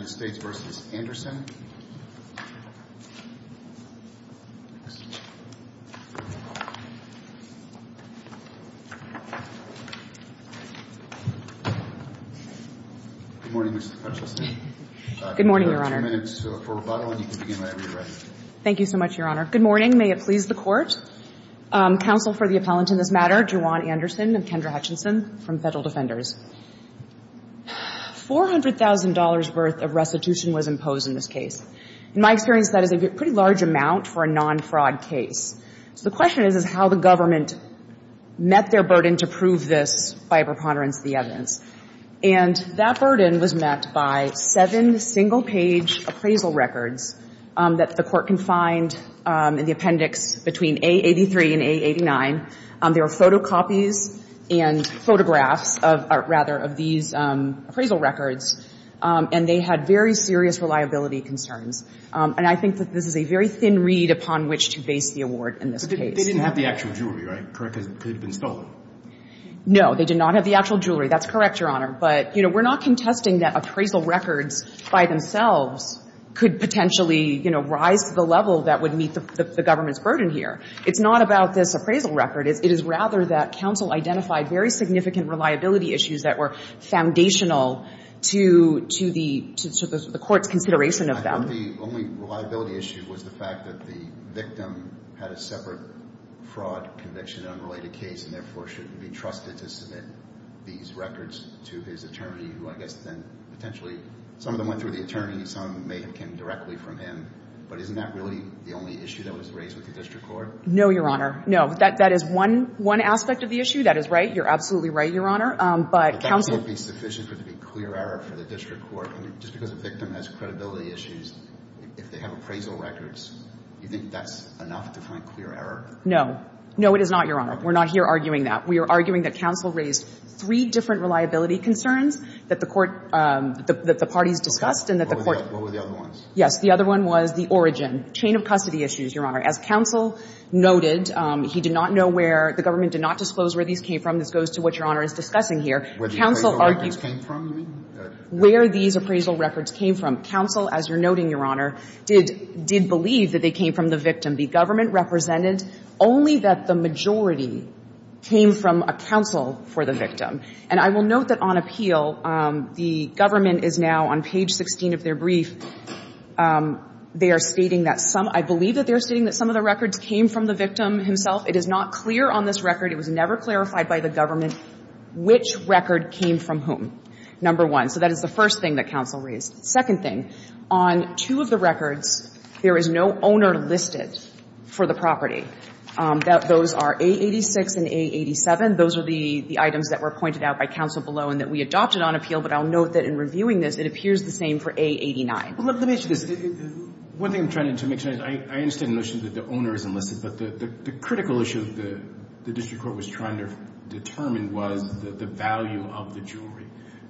Good morning, Mr. Hutchinson. Good morning, Your Honor. If you have a few minutes for rebuttal and you can begin whenever you're ready. Thank you so much, Your Honor. Good morning. May it please the Court. Counsel for the appellant in this matter, Juwan Anderson and Kendra Hutchinson from Federal Defenders. $400,000 worth of restitution was imposed in this case. In my experience, that is a pretty large amount for a non-fraud case. So the question is how the government met their burden to prove this by preponderance of the evidence. And that burden was met by seven single-page appraisal records that the Court can find in the appendix between A83 and A89. There are photocopies and photographs of, or rather, of these appraisal records. And they had very serious reliability concerns. And I think that this is a very thin reed upon which to base the award in this case. They didn't have the actual jewelry, right? Correct? Because it could have been stolen. No. They did not have the actual jewelry. That's correct, Your Honor. But, you know, we're not contesting that appraisal records by themselves could potentially, you know, rise to the level that would meet the government's burden here. It's not about this appraisal record. It is rather that counsel identified very significant reliability issues that were foundational to the Court's consideration of them. I thought the only reliability issue was the fact that the victim had a separate fraud conviction, an unrelated case, and therefore shouldn't be trusted to submit these records to his attorney, who I guess then potentially some of them went through the attorney. Some of them may have come directly from him. But isn't that really the only issue that was raised with the district court? No, Your Honor. No. That is one aspect of the issue. That is right. You're absolutely right, Your Honor. But counsel — But that wouldn't be sufficient for it to be clear error for the district court. I mean, just because a victim has credibility issues, if they have appraisal records, you think that's enough to find clear error? No. No, it is not, Your Honor. We're not here arguing that. We are arguing that counsel raised three different reliability concerns that the Court — that the parties discussed and that the Court — Okay. What were the other ones? Yes. The other one was the origin, chain of custody issues, Your Honor. As counsel noted, he did not know where — the government did not disclose where these came from. This goes to what Your Honor is discussing here. Where the appraisal records came from, you mean? Where these appraisal records came from. Counsel, as you're noting, Your Honor, did believe that they came from the victim. The government represented only that the majority came from a counsel for the victim. And I will note that on appeal, the government is now, on page 16 of their brief, they are stating that some — I believe that they're stating that some of the records came from the victim himself. It is not clear on this record. It was never clarified by the government which record came from whom, number one. So that is the first thing that counsel raised. Second thing, on two of the records, there is no owner listed for the property. Those are A86 and A87. Those are the items that were pointed out by counsel below and that we adopted on appeal. But I'll note that in reviewing this, it appears the same for A89. Let me ask you this. One thing I'm trying to make sure — I understand the notion that the owner is enlisted, but the critical issue the district court was trying to determine was the value of the jewelry.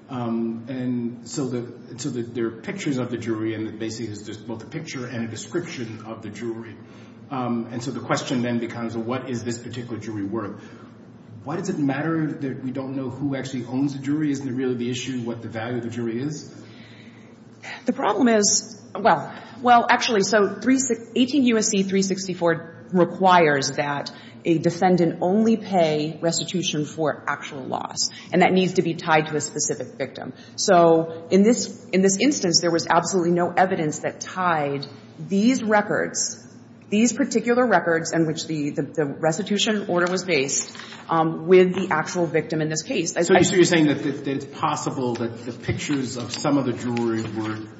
And so there are pictures of the jewelry, and basically there's both a picture and a description of the jewelry. And so the question then becomes, well, what is this particular jewelry worth? Why does it matter that we don't know who actually owns the jewelry? Isn't it really the issue what the value of the jewelry is? The problem is — well, actually, so 18 U.S.C. 364 requires that a defendant only pay restitution for actual loss, and that needs to be tied to a specific victim. So in this instance, there was absolutely no evidence that tied these records, these particular records in which the restitution order was based, with the actual victim in this case. So you're saying that it's possible that the pictures of some of the jewelry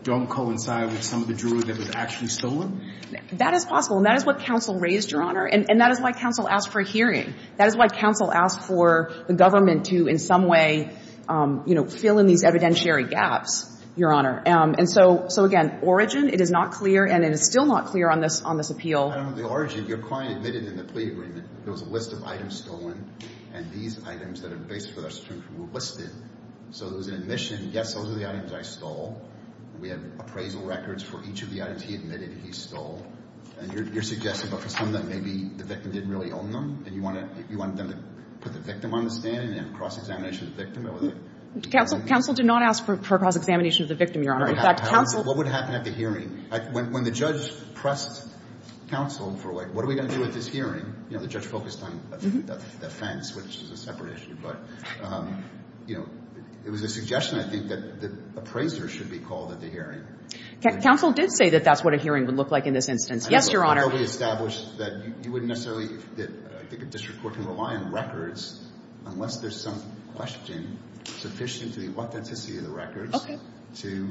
don't coincide with some of the jewelry that was actually stolen? That is possible. And that is what counsel raised, Your Honor. And that is why counsel asked for a hearing. That is why counsel asked for the government to in some way, you know, fill in these evidentiary gaps, Your Honor. And so, again, origin, it is not clear, and it is still not clear on this appeal. The origin, your client admitted in the plea agreement there was a list of items stolen, and these items that are based with restitution were listed. So there was an admission, yes, those are the items I stole. We have appraisal records for each of the items he admitted he stole. And you're suggesting that for some of them, maybe the victim didn't really own them, and you wanted them to put the victim on the stand and have cross-examination of the victim? Counsel did not ask for cross-examination of the victim, Your Honor. What would happen at the hearing? When the judge pressed counsel for, like, what are we going to do with this hearing? You know, the judge focused on the offense, which is a separate issue. But, you know, it was a suggestion, I think, that appraisers should be called at the hearing. Counsel did say that that's what a hearing would look like in this instance. Yes, Your Honor. I know we established that you wouldn't necessarily, that I think a district court can rely on records unless there's some question sufficient to the authenticity of the records to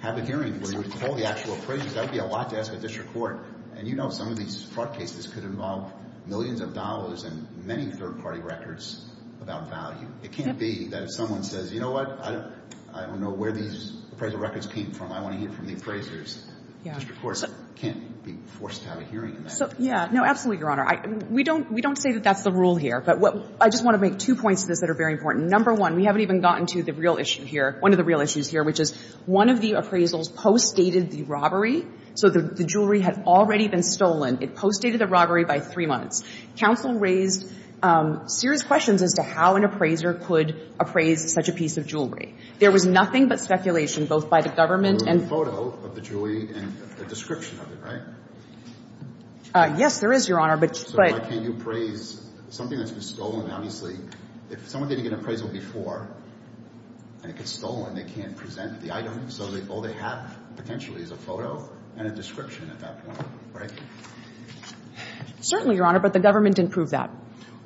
have a hearing where you would call the actual appraisers. That would be a lot to ask a district court. And you know some of these fraud cases could involve millions of dollars and many third-party records about value. It can't be that if someone says, you know what, I don't know where these appraisal records came from. I want to hear from the appraisers. A district court can't be forced to have a hearing in that. Yeah, no, absolutely, Your Honor. We don't say that that's the rule here. But I just want to make two points to this that are very important. Number one, we haven't even gotten to the real issue here, one of the real issues here, which is one of the appraisals postdated the robbery. So the jewelry had already been stolen. It postdated the robbery by three months. Counsel raised serious questions as to how an appraiser could appraise such a piece of jewelry. There was nothing but speculation both by the government and the jury and the description of it, right? Yes, there is, Your Honor. So why can't you appraise something that's been stolen? Obviously, if someone didn't get an appraisal before and it gets stolen, they can't present the item. So all they have potentially is a photo and a description at that point, right? Certainly, Your Honor, but the government didn't prove that.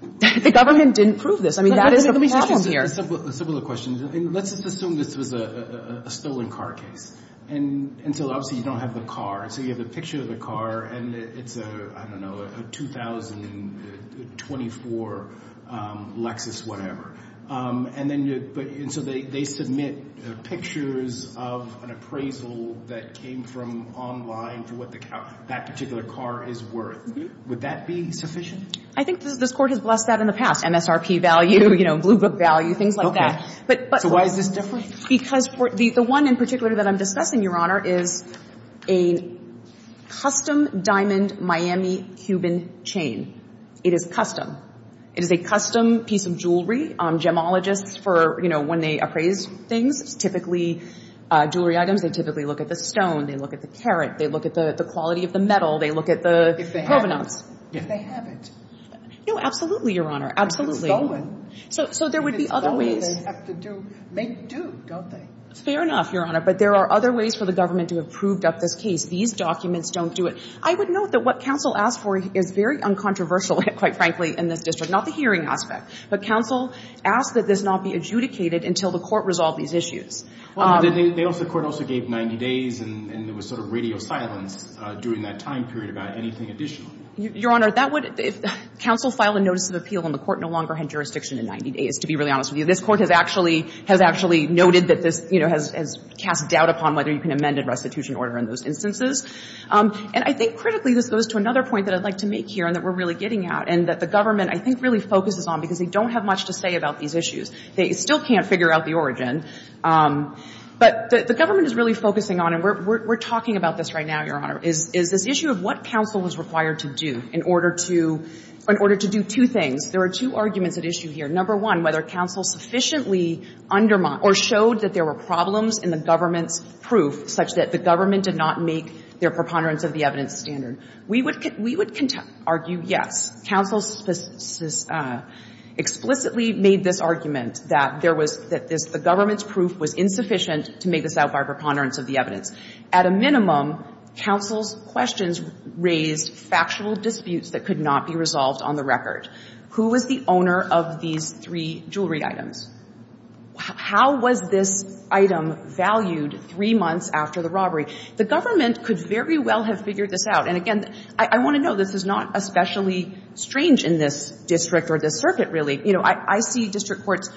The government didn't prove this. I mean, that is the problem here. Let me ask you a similar question. Let's assume this was a stolen car case until obviously you don't have the car. So you have a picture of the car and it's a, I don't know, a 2024 Lexus whatever. And so they submit pictures of an appraisal that came from online for what that particular car is worth. Would that be sufficient? I think this Court has blessed that in the past, MSRP value, Blue Book value, things like that. So why is this different? Because the one in particular that I'm discussing, Your Honor, is a custom diamond Miami Cuban chain. It is custom. It is a custom piece of jewelry. Gemologists for, you know, when they appraise things, it's typically jewelry items. They typically look at the stone. They look at the carat. They look at the quality of the metal. They look at the provenance. If they have it. No, absolutely, Your Honor. Absolutely. So there would be other ways. They'd have to do, make do, don't they? Fair enough, Your Honor. But there are other ways for the government to have proved up this case. These documents don't do it. I would note that what counsel asked for is very uncontroversial, quite frankly, in this district. Not the hearing aspect. But counsel asked that this not be adjudicated until the Court resolved these issues. Well, the Court also gave 90 days and there was sort of radio silence during that time period about anything additional. Your Honor, that would, if counsel filed a notice of appeal and the Court no longer had jurisdiction in 90 days, to be really honest with you. This Court has actually noted that this, you know, has cast doubt upon whether you can amend a restitution order in those instances. And I think critically this goes to another point that I'd like to make here and that we're really getting at and that the government, I think, really focuses on because they don't have much to say about these issues. They still can't figure out the origin. But the government is really focusing on, and we're talking about this right now, Your Honor, is this issue of what counsel was required to do in order to do two things. There are two arguments at issue here. Number one, whether counsel sufficiently undermined or showed that there were problems in the government's proof such that the government did not make their preponderance of the evidence standard. We would argue yes. Counsel explicitly made this argument that there was, that the government's proof was insufficient to make this out by preponderance of the evidence. At a minimum, counsel's questions raised factual disputes that could not be resolved on the record. Who was the owner of these three jewelry items? How was this item valued three months after the robbery? The government could very well have figured this out. And, again, I want to know. This is not especially strange in this district or this circuit, really. You know, I see district courts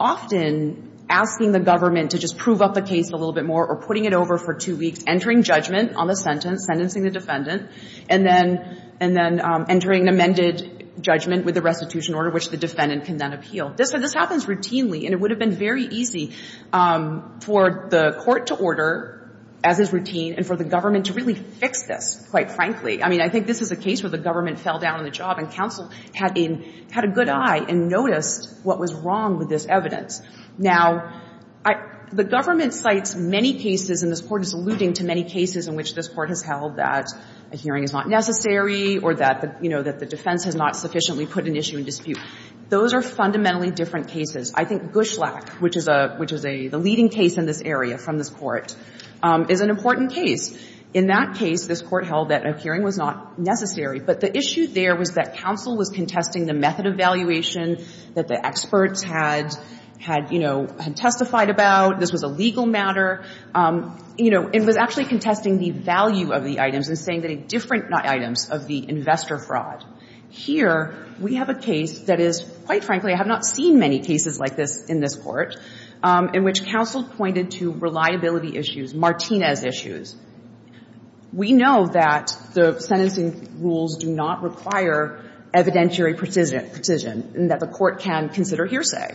often asking the government to just prove up the case a little bit more or putting it over for two weeks, entering judgment on the sentence, sentencing the defendant, and then entering an amended judgment with the restitution order, which the defendant can then appeal. This happens routinely, and it would have been very easy for the court to order, as is routine, and for the government to really fix this, quite frankly. I mean, I think this is a case where the government fell down on the job and counsel had a good eye and noticed what was wrong with this evidence. Now, the government cites many cases, and this Court is alluding to many cases in which this Court has held that a hearing is not necessary or that, you know, that the defense has not sufficiently put an issue in dispute. Those are fundamentally different cases. I think Gushlak, which is a leading case in this area from this Court, is an important case. In that case, this Court held that a hearing was not necessary, but the issue there was that counsel was contesting the method of valuation that the experts had, you know, testified about. This was a legal matter. You know, it was actually contesting the value of the items and saying that it's different items of the investor fraud. Here, we have a case that is, quite frankly, I have not seen many cases like this in this Court, in which counsel pointed to reliability issues, Martinez issues. We know that the sentencing rules do not require evidentiary precision, and that the Court can consider hearsay.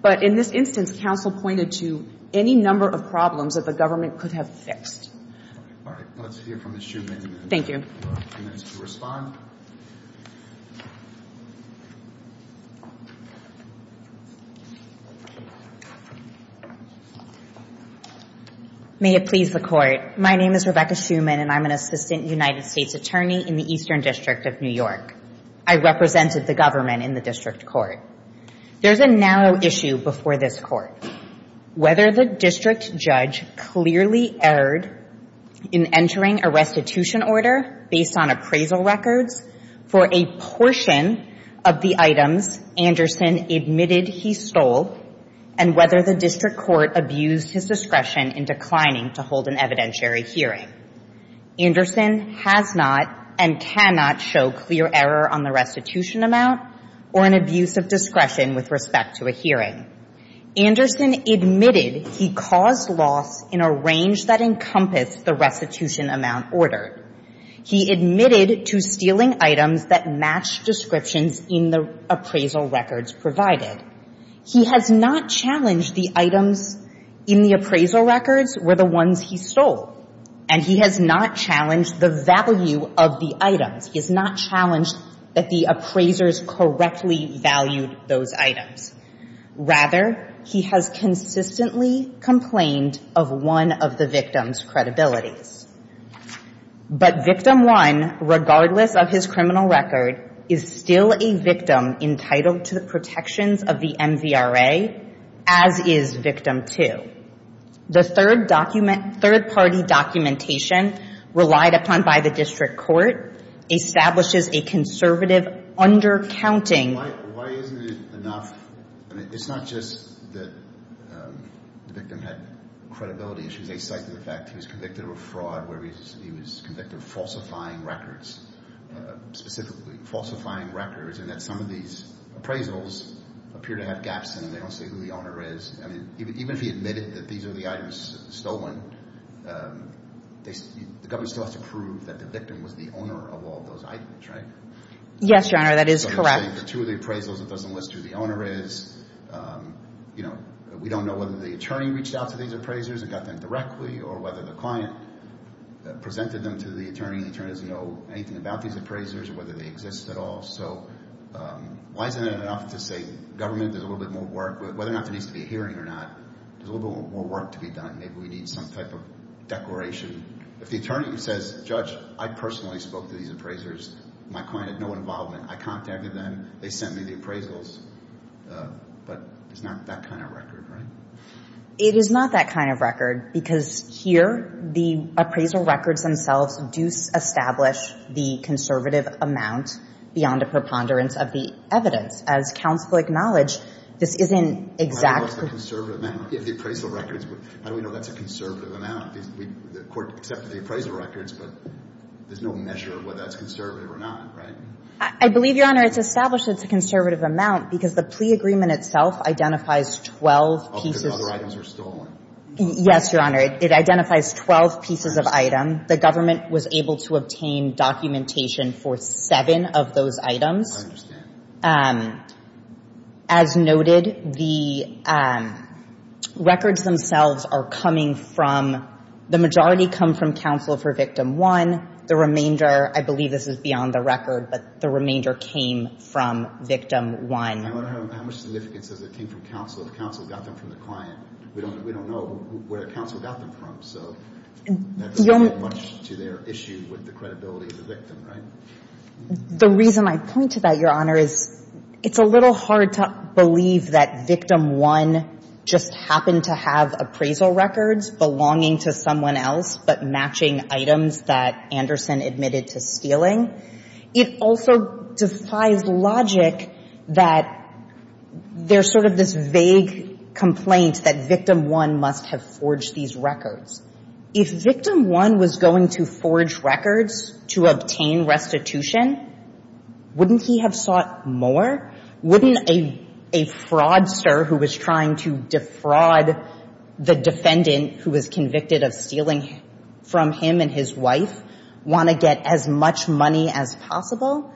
But in this instance, counsel pointed to any number of problems that the government could have fixed. All right. Let's hear from Ms. Shuman. Thank you. You have a few minutes to respond. May it please the Court. My name is Rebecca Shuman, and I'm an assistant United States attorney in the Eastern District of New York. I represented the government in the district court. There's a narrow issue before this Court. Whether the district judge clearly erred in entering a restitution order based on appraisal records for a portion of the items Anderson admitted he stole, and whether the district court abused his discretion in declining to hold an evidentiary hearing. Anderson has not and cannot show clear error on the restitution amount or an abuse of discretion with respect to a hearing. Anderson admitted he caused loss in a range that encompassed the restitution amount ordered. He admitted to stealing items that matched descriptions in the appraisal records provided. He has not challenged the items in the appraisal records were the ones he stole, and he has not challenged the value of the items. He has not challenged that the appraisers correctly valued those items. Rather, he has consistently complained of one of the victim's credibilities. But Victim 1, regardless of his criminal record, is still a victim entitled to the protections of the MVRA, as is Victim 2. The third document, third-party documentation relied upon by the district court establishes a conservative undercounting. Why isn't it enough? I mean, it's not just that the victim had credibility issues. They cite the fact he was convicted of a fraud where he was convicted of falsifying records, specifically falsifying records, and that some of these appraisals appear to have gaps in them. They don't say who the owner is. I mean, even if he admitted that these are the items stolen, the government still has to prove that the victim was the owner of all those items, right? Yes, Your Honor, that is correct. So they're saying the two of the appraisals, it doesn't list who the owner is. You know, we don't know whether the attorney reached out to these appraisers and got them directly or whether the client presented them to the attorney. The attorney doesn't know anything about these appraisers or whether they exist at all. So why isn't it enough to say government does a little bit more work, whether or not there needs to be a hearing or not. There's a little bit more work to be done. Maybe we need some type of declaration. If the attorney says, Judge, I personally spoke to these appraisers. My client had no involvement. I contacted them. They sent me the appraisals. But it's not that kind of record, right? It is not that kind of record because here the appraisal records themselves do establish the conservative amount beyond a preponderance of the evidence. As counsel will acknowledge, this isn't exact. I know it's a conservative amount. Yeah, the appraisal records. But how do we know that's a conservative amount? The court accepted the appraisal records, but there's no measure of whether that's conservative or not, right? I believe, Your Honor, it's established it's a conservative amount because the plea agreement itself identifies 12 pieces. Oh, because other items were stolen. Yes, Your Honor. It identifies 12 pieces of item. The government was able to obtain documentation for seven of those items. I understand. As noted, the records themselves are coming from the majority come from counsel for victim one. The remainder, I believe this is beyond the record, but the remainder came from victim one. How much significance does it take from counsel if counsel got them from the client? We don't know where counsel got them from, so that doesn't add much to their issue with the credibility of the victim, right? The reason I point to that, Your Honor, is it's a little hard to believe that victim one just happened to have appraisal records belonging to someone else but matching items that Anderson admitted to stealing. It also defies logic that there's sort of this vague complaint that victim one must have forged these records. If victim one was going to forge records to obtain restitution, wouldn't he have sought more? Wouldn't a fraudster who was trying to defraud the defendant who was convicted of stealing from him and his wife want to get as much money as possible?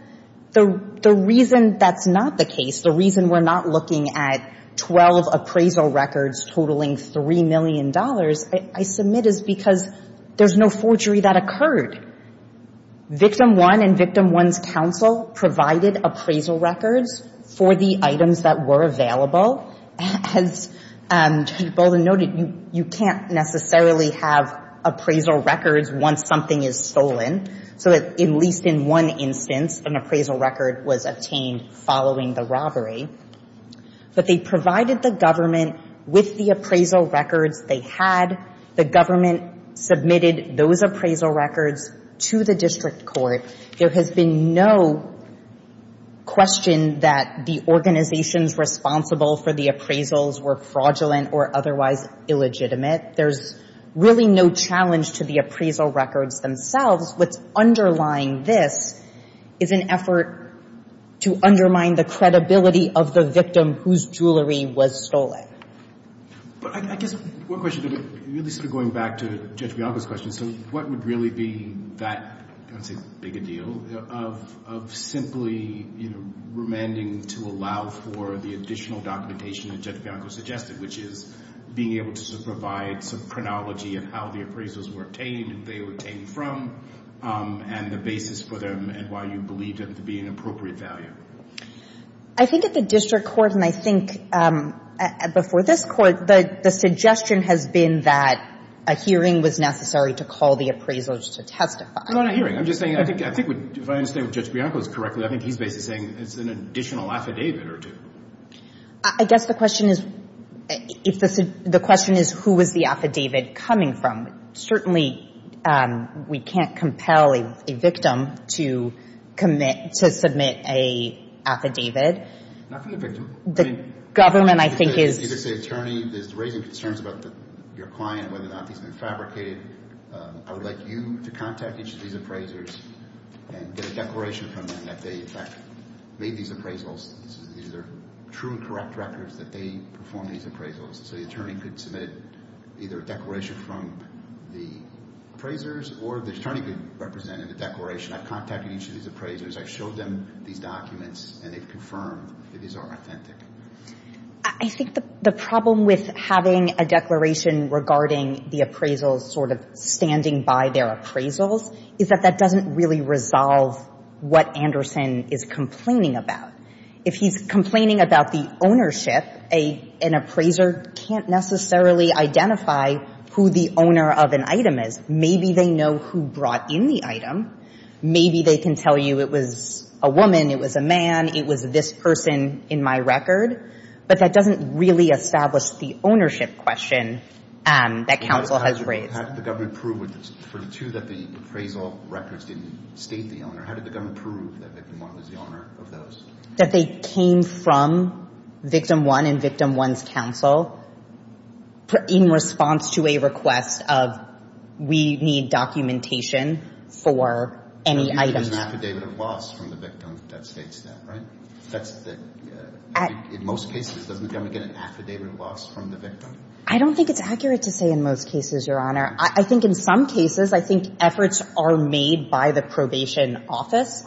The reason that's not the case, the reason we're not looking at 12 appraisal records totaling $3 million, I submit, is because there's no forgery that occurred. Victim one and victim one's counsel provided appraisal records for the items that were available. As you boldly noted, you can't necessarily have appraisal records once something is stolen, so at least in one instance, an appraisal record was obtained following the robbery. But they provided the government with the appraisal records they had. The government submitted those appraisal records to the district court. There has been no question that the organizations responsible for the appraisals were fraudulent or otherwise illegitimate. There's really no challenge to the appraisal records themselves. What's underlying this is an effort to undermine the credibility of the victim whose jewelry was stolen. But I guess one question, going back to Judge Bianco's question, what would really be that big a deal of simply remanding to allow for the additional documentation that Judge Bianco suggested, which is being able to provide some terminology of how the appraisals were obtained and they were obtained from and the basis for them and why you believe them to be an appropriate value? I think at the district court and I think before this court, the suggestion has been that a hearing was necessary to call the appraisals to testify. No, not a hearing. I'm just saying I think if I understand Judge Bianco's correctly, I think he's basically saying it's an additional affidavit or two. I guess the question is who was the affidavit coming from? Certainly, we can't compel a victim to submit an affidavit. Not from the victim. The government, I think, is... If it's the attorney that's raising concerns about your client, whether or not these have been fabricated, I would like you to contact each of these appraisers and get a declaration from them that they, in fact, made these appraisals. These are true and correct records that they performed these appraisals. So the attorney could submit either a declaration from the appraisers or the attorney could represent in the declaration. I've contacted each of these appraisers. I've showed them these documents and they've confirmed that these are authentic. I think the problem with having a declaration regarding the appraisals sort of standing by their appraisals is that that doesn't really resolve what Anderson is complaining about. If he's complaining about the ownership, an appraiser can't necessarily identify who the owner of an item is. Maybe they know who brought in the item. Maybe they can tell you it was a woman, it was a man, it was this person in my record. But that doesn't really establish the ownership question that counsel has raised. How did the government prove for the two that the appraisal records didn't state the owner? How did the government prove that Victim One was the owner of those? That they came from Victim One and Victim One's counsel in response to a request of we need documentation for any items. There's an affidavit of loss from the victim that states that, right? In most cases, doesn't the government get an affidavit of loss from the victim? I don't think it's accurate to say in most cases, Your Honor. I think in some cases, I think efforts are made by the probation office.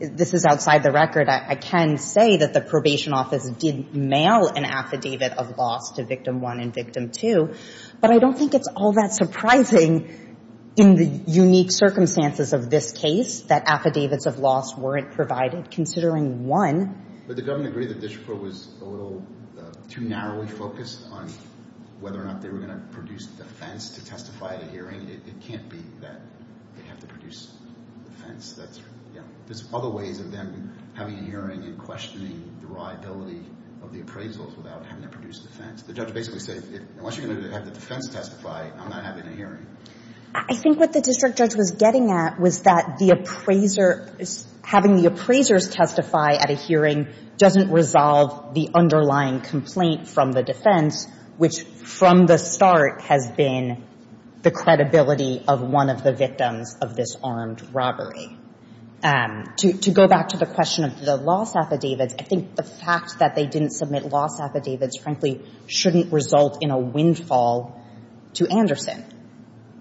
This is outside the record. I can say that the probation office did mail an affidavit of loss to Victim One and Victim Two, but I don't think it's all that surprising in the unique circumstances of this case that affidavits of loss weren't provided, considering, one, Did the government agree that the district court was a little too narrowly whether or not they were going to produce defense to testify at a hearing? It can't be that they have to produce defense. There's other ways of them having a hearing and questioning the reliability of the appraisals without having to produce defense. The judge basically said, Once you're going to have the defense testify, I'm not having a hearing. I think what the district judge was getting at was that the appraiser, having the appraisers testify at a hearing doesn't resolve the underlying complaint from the defense, which, from the start, has been the credibility of one of the victims of this armed robbery. To go back to the question of the loss affidavits, I think the fact that they didn't submit loss affidavits, frankly, shouldn't result in a windfall to Anderson.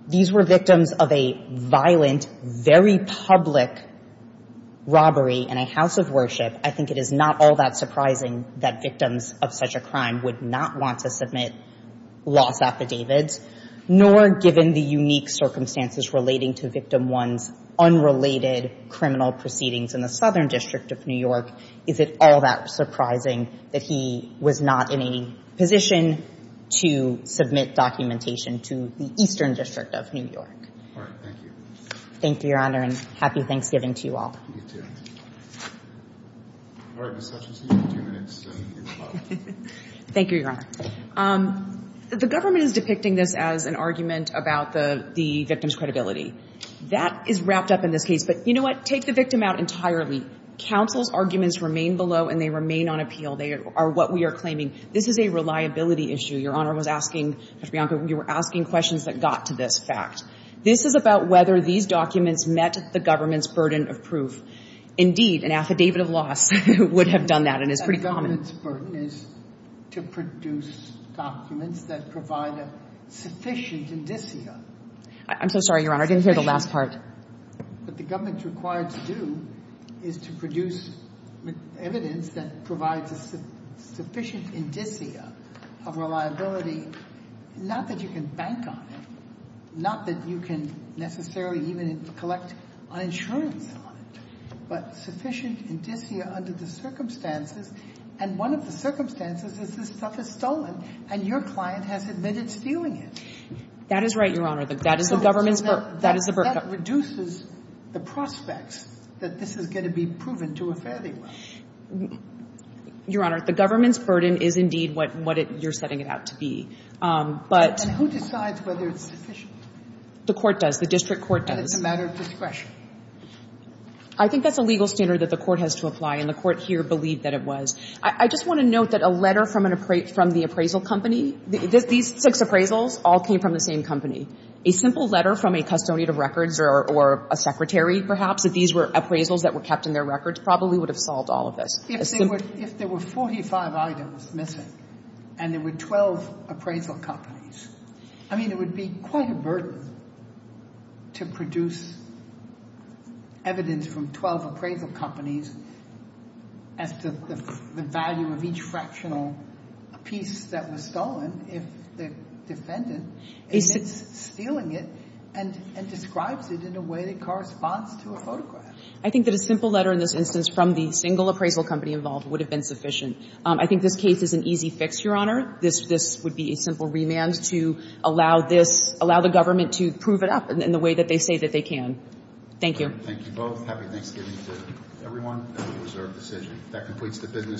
These were victims of a violent, very public robbery in a house of worship. I think it is not all that surprising that victims of such a crime would not want to submit loss affidavits, nor given the unique circumstances relating to Victim 1's unrelated criminal proceedings in the Southern District of New York, is it all that surprising that he was not in a position to submit documentation to the Eastern District of New York. All right. Thank you. Thank you, Your Honor, and happy Thanksgiving to you all. You too. All right, Ms. Hutchinson, you have two minutes. Thank you, Your Honor. The government is depicting this as an argument about the victim's credibility. That is wrapped up in this case, but you know what? Take the victim out entirely. Counsel's arguments remain below, and they remain on appeal. They are what we are claiming. This is a reliability issue. Your Honor was asking, Judge Bianco, you were asking questions that got to this fact. This is about whether these documents met the government's burden of proof. Indeed, an affidavit of loss would have done that and is pretty common. The government's burden is to produce documents that provide a sufficient indicia. I'm so sorry, Your Honor. I didn't hear the last part. What the government is required to do is to produce evidence that provides a sufficient indicia of reliability, not that you can bank on it, not that you can necessarily even collect on insurance on it, but sufficient indicia under the circumstances. And one of the circumstances is this stuff is stolen, and your client has admitted stealing it. That is right, Your Honor. That is the government's burden. That is the burden. That reduces the prospects that this is going to be proven to a fairly well. Your Honor, the government's burden is indeed what you're setting it out to be. And who decides whether it's sufficient? The court does. The district court does. And it's a matter of discretion. I think that's a legal standard that the court has to apply, and the court here believed that it was. I just want to note that a letter from the appraisal company, these six appraisals all came from the same company. A simple letter from a custodian of records or a secretary, perhaps, if these were appraisals that were kept in their records, probably would have solved all of this. If there were 45 items missing and there were 12 appraisal companies, I mean, it would be quite a burden to produce evidence from 12 appraisal companies as to the value of each fractional piece that was stolen if the defendant admits stealing it and describes it in a way that corresponds to a photograph. I think that a simple letter in this instance from the single appraisal company involved would have been sufficient. I think this case is an easy fix, Your Honor. This would be a simple remand to allow this, allow the government to prove it up in the way that they say that they can. Thank you. Thank you both. Happy Thanksgiving to everyone. That was our decision. That completes the business.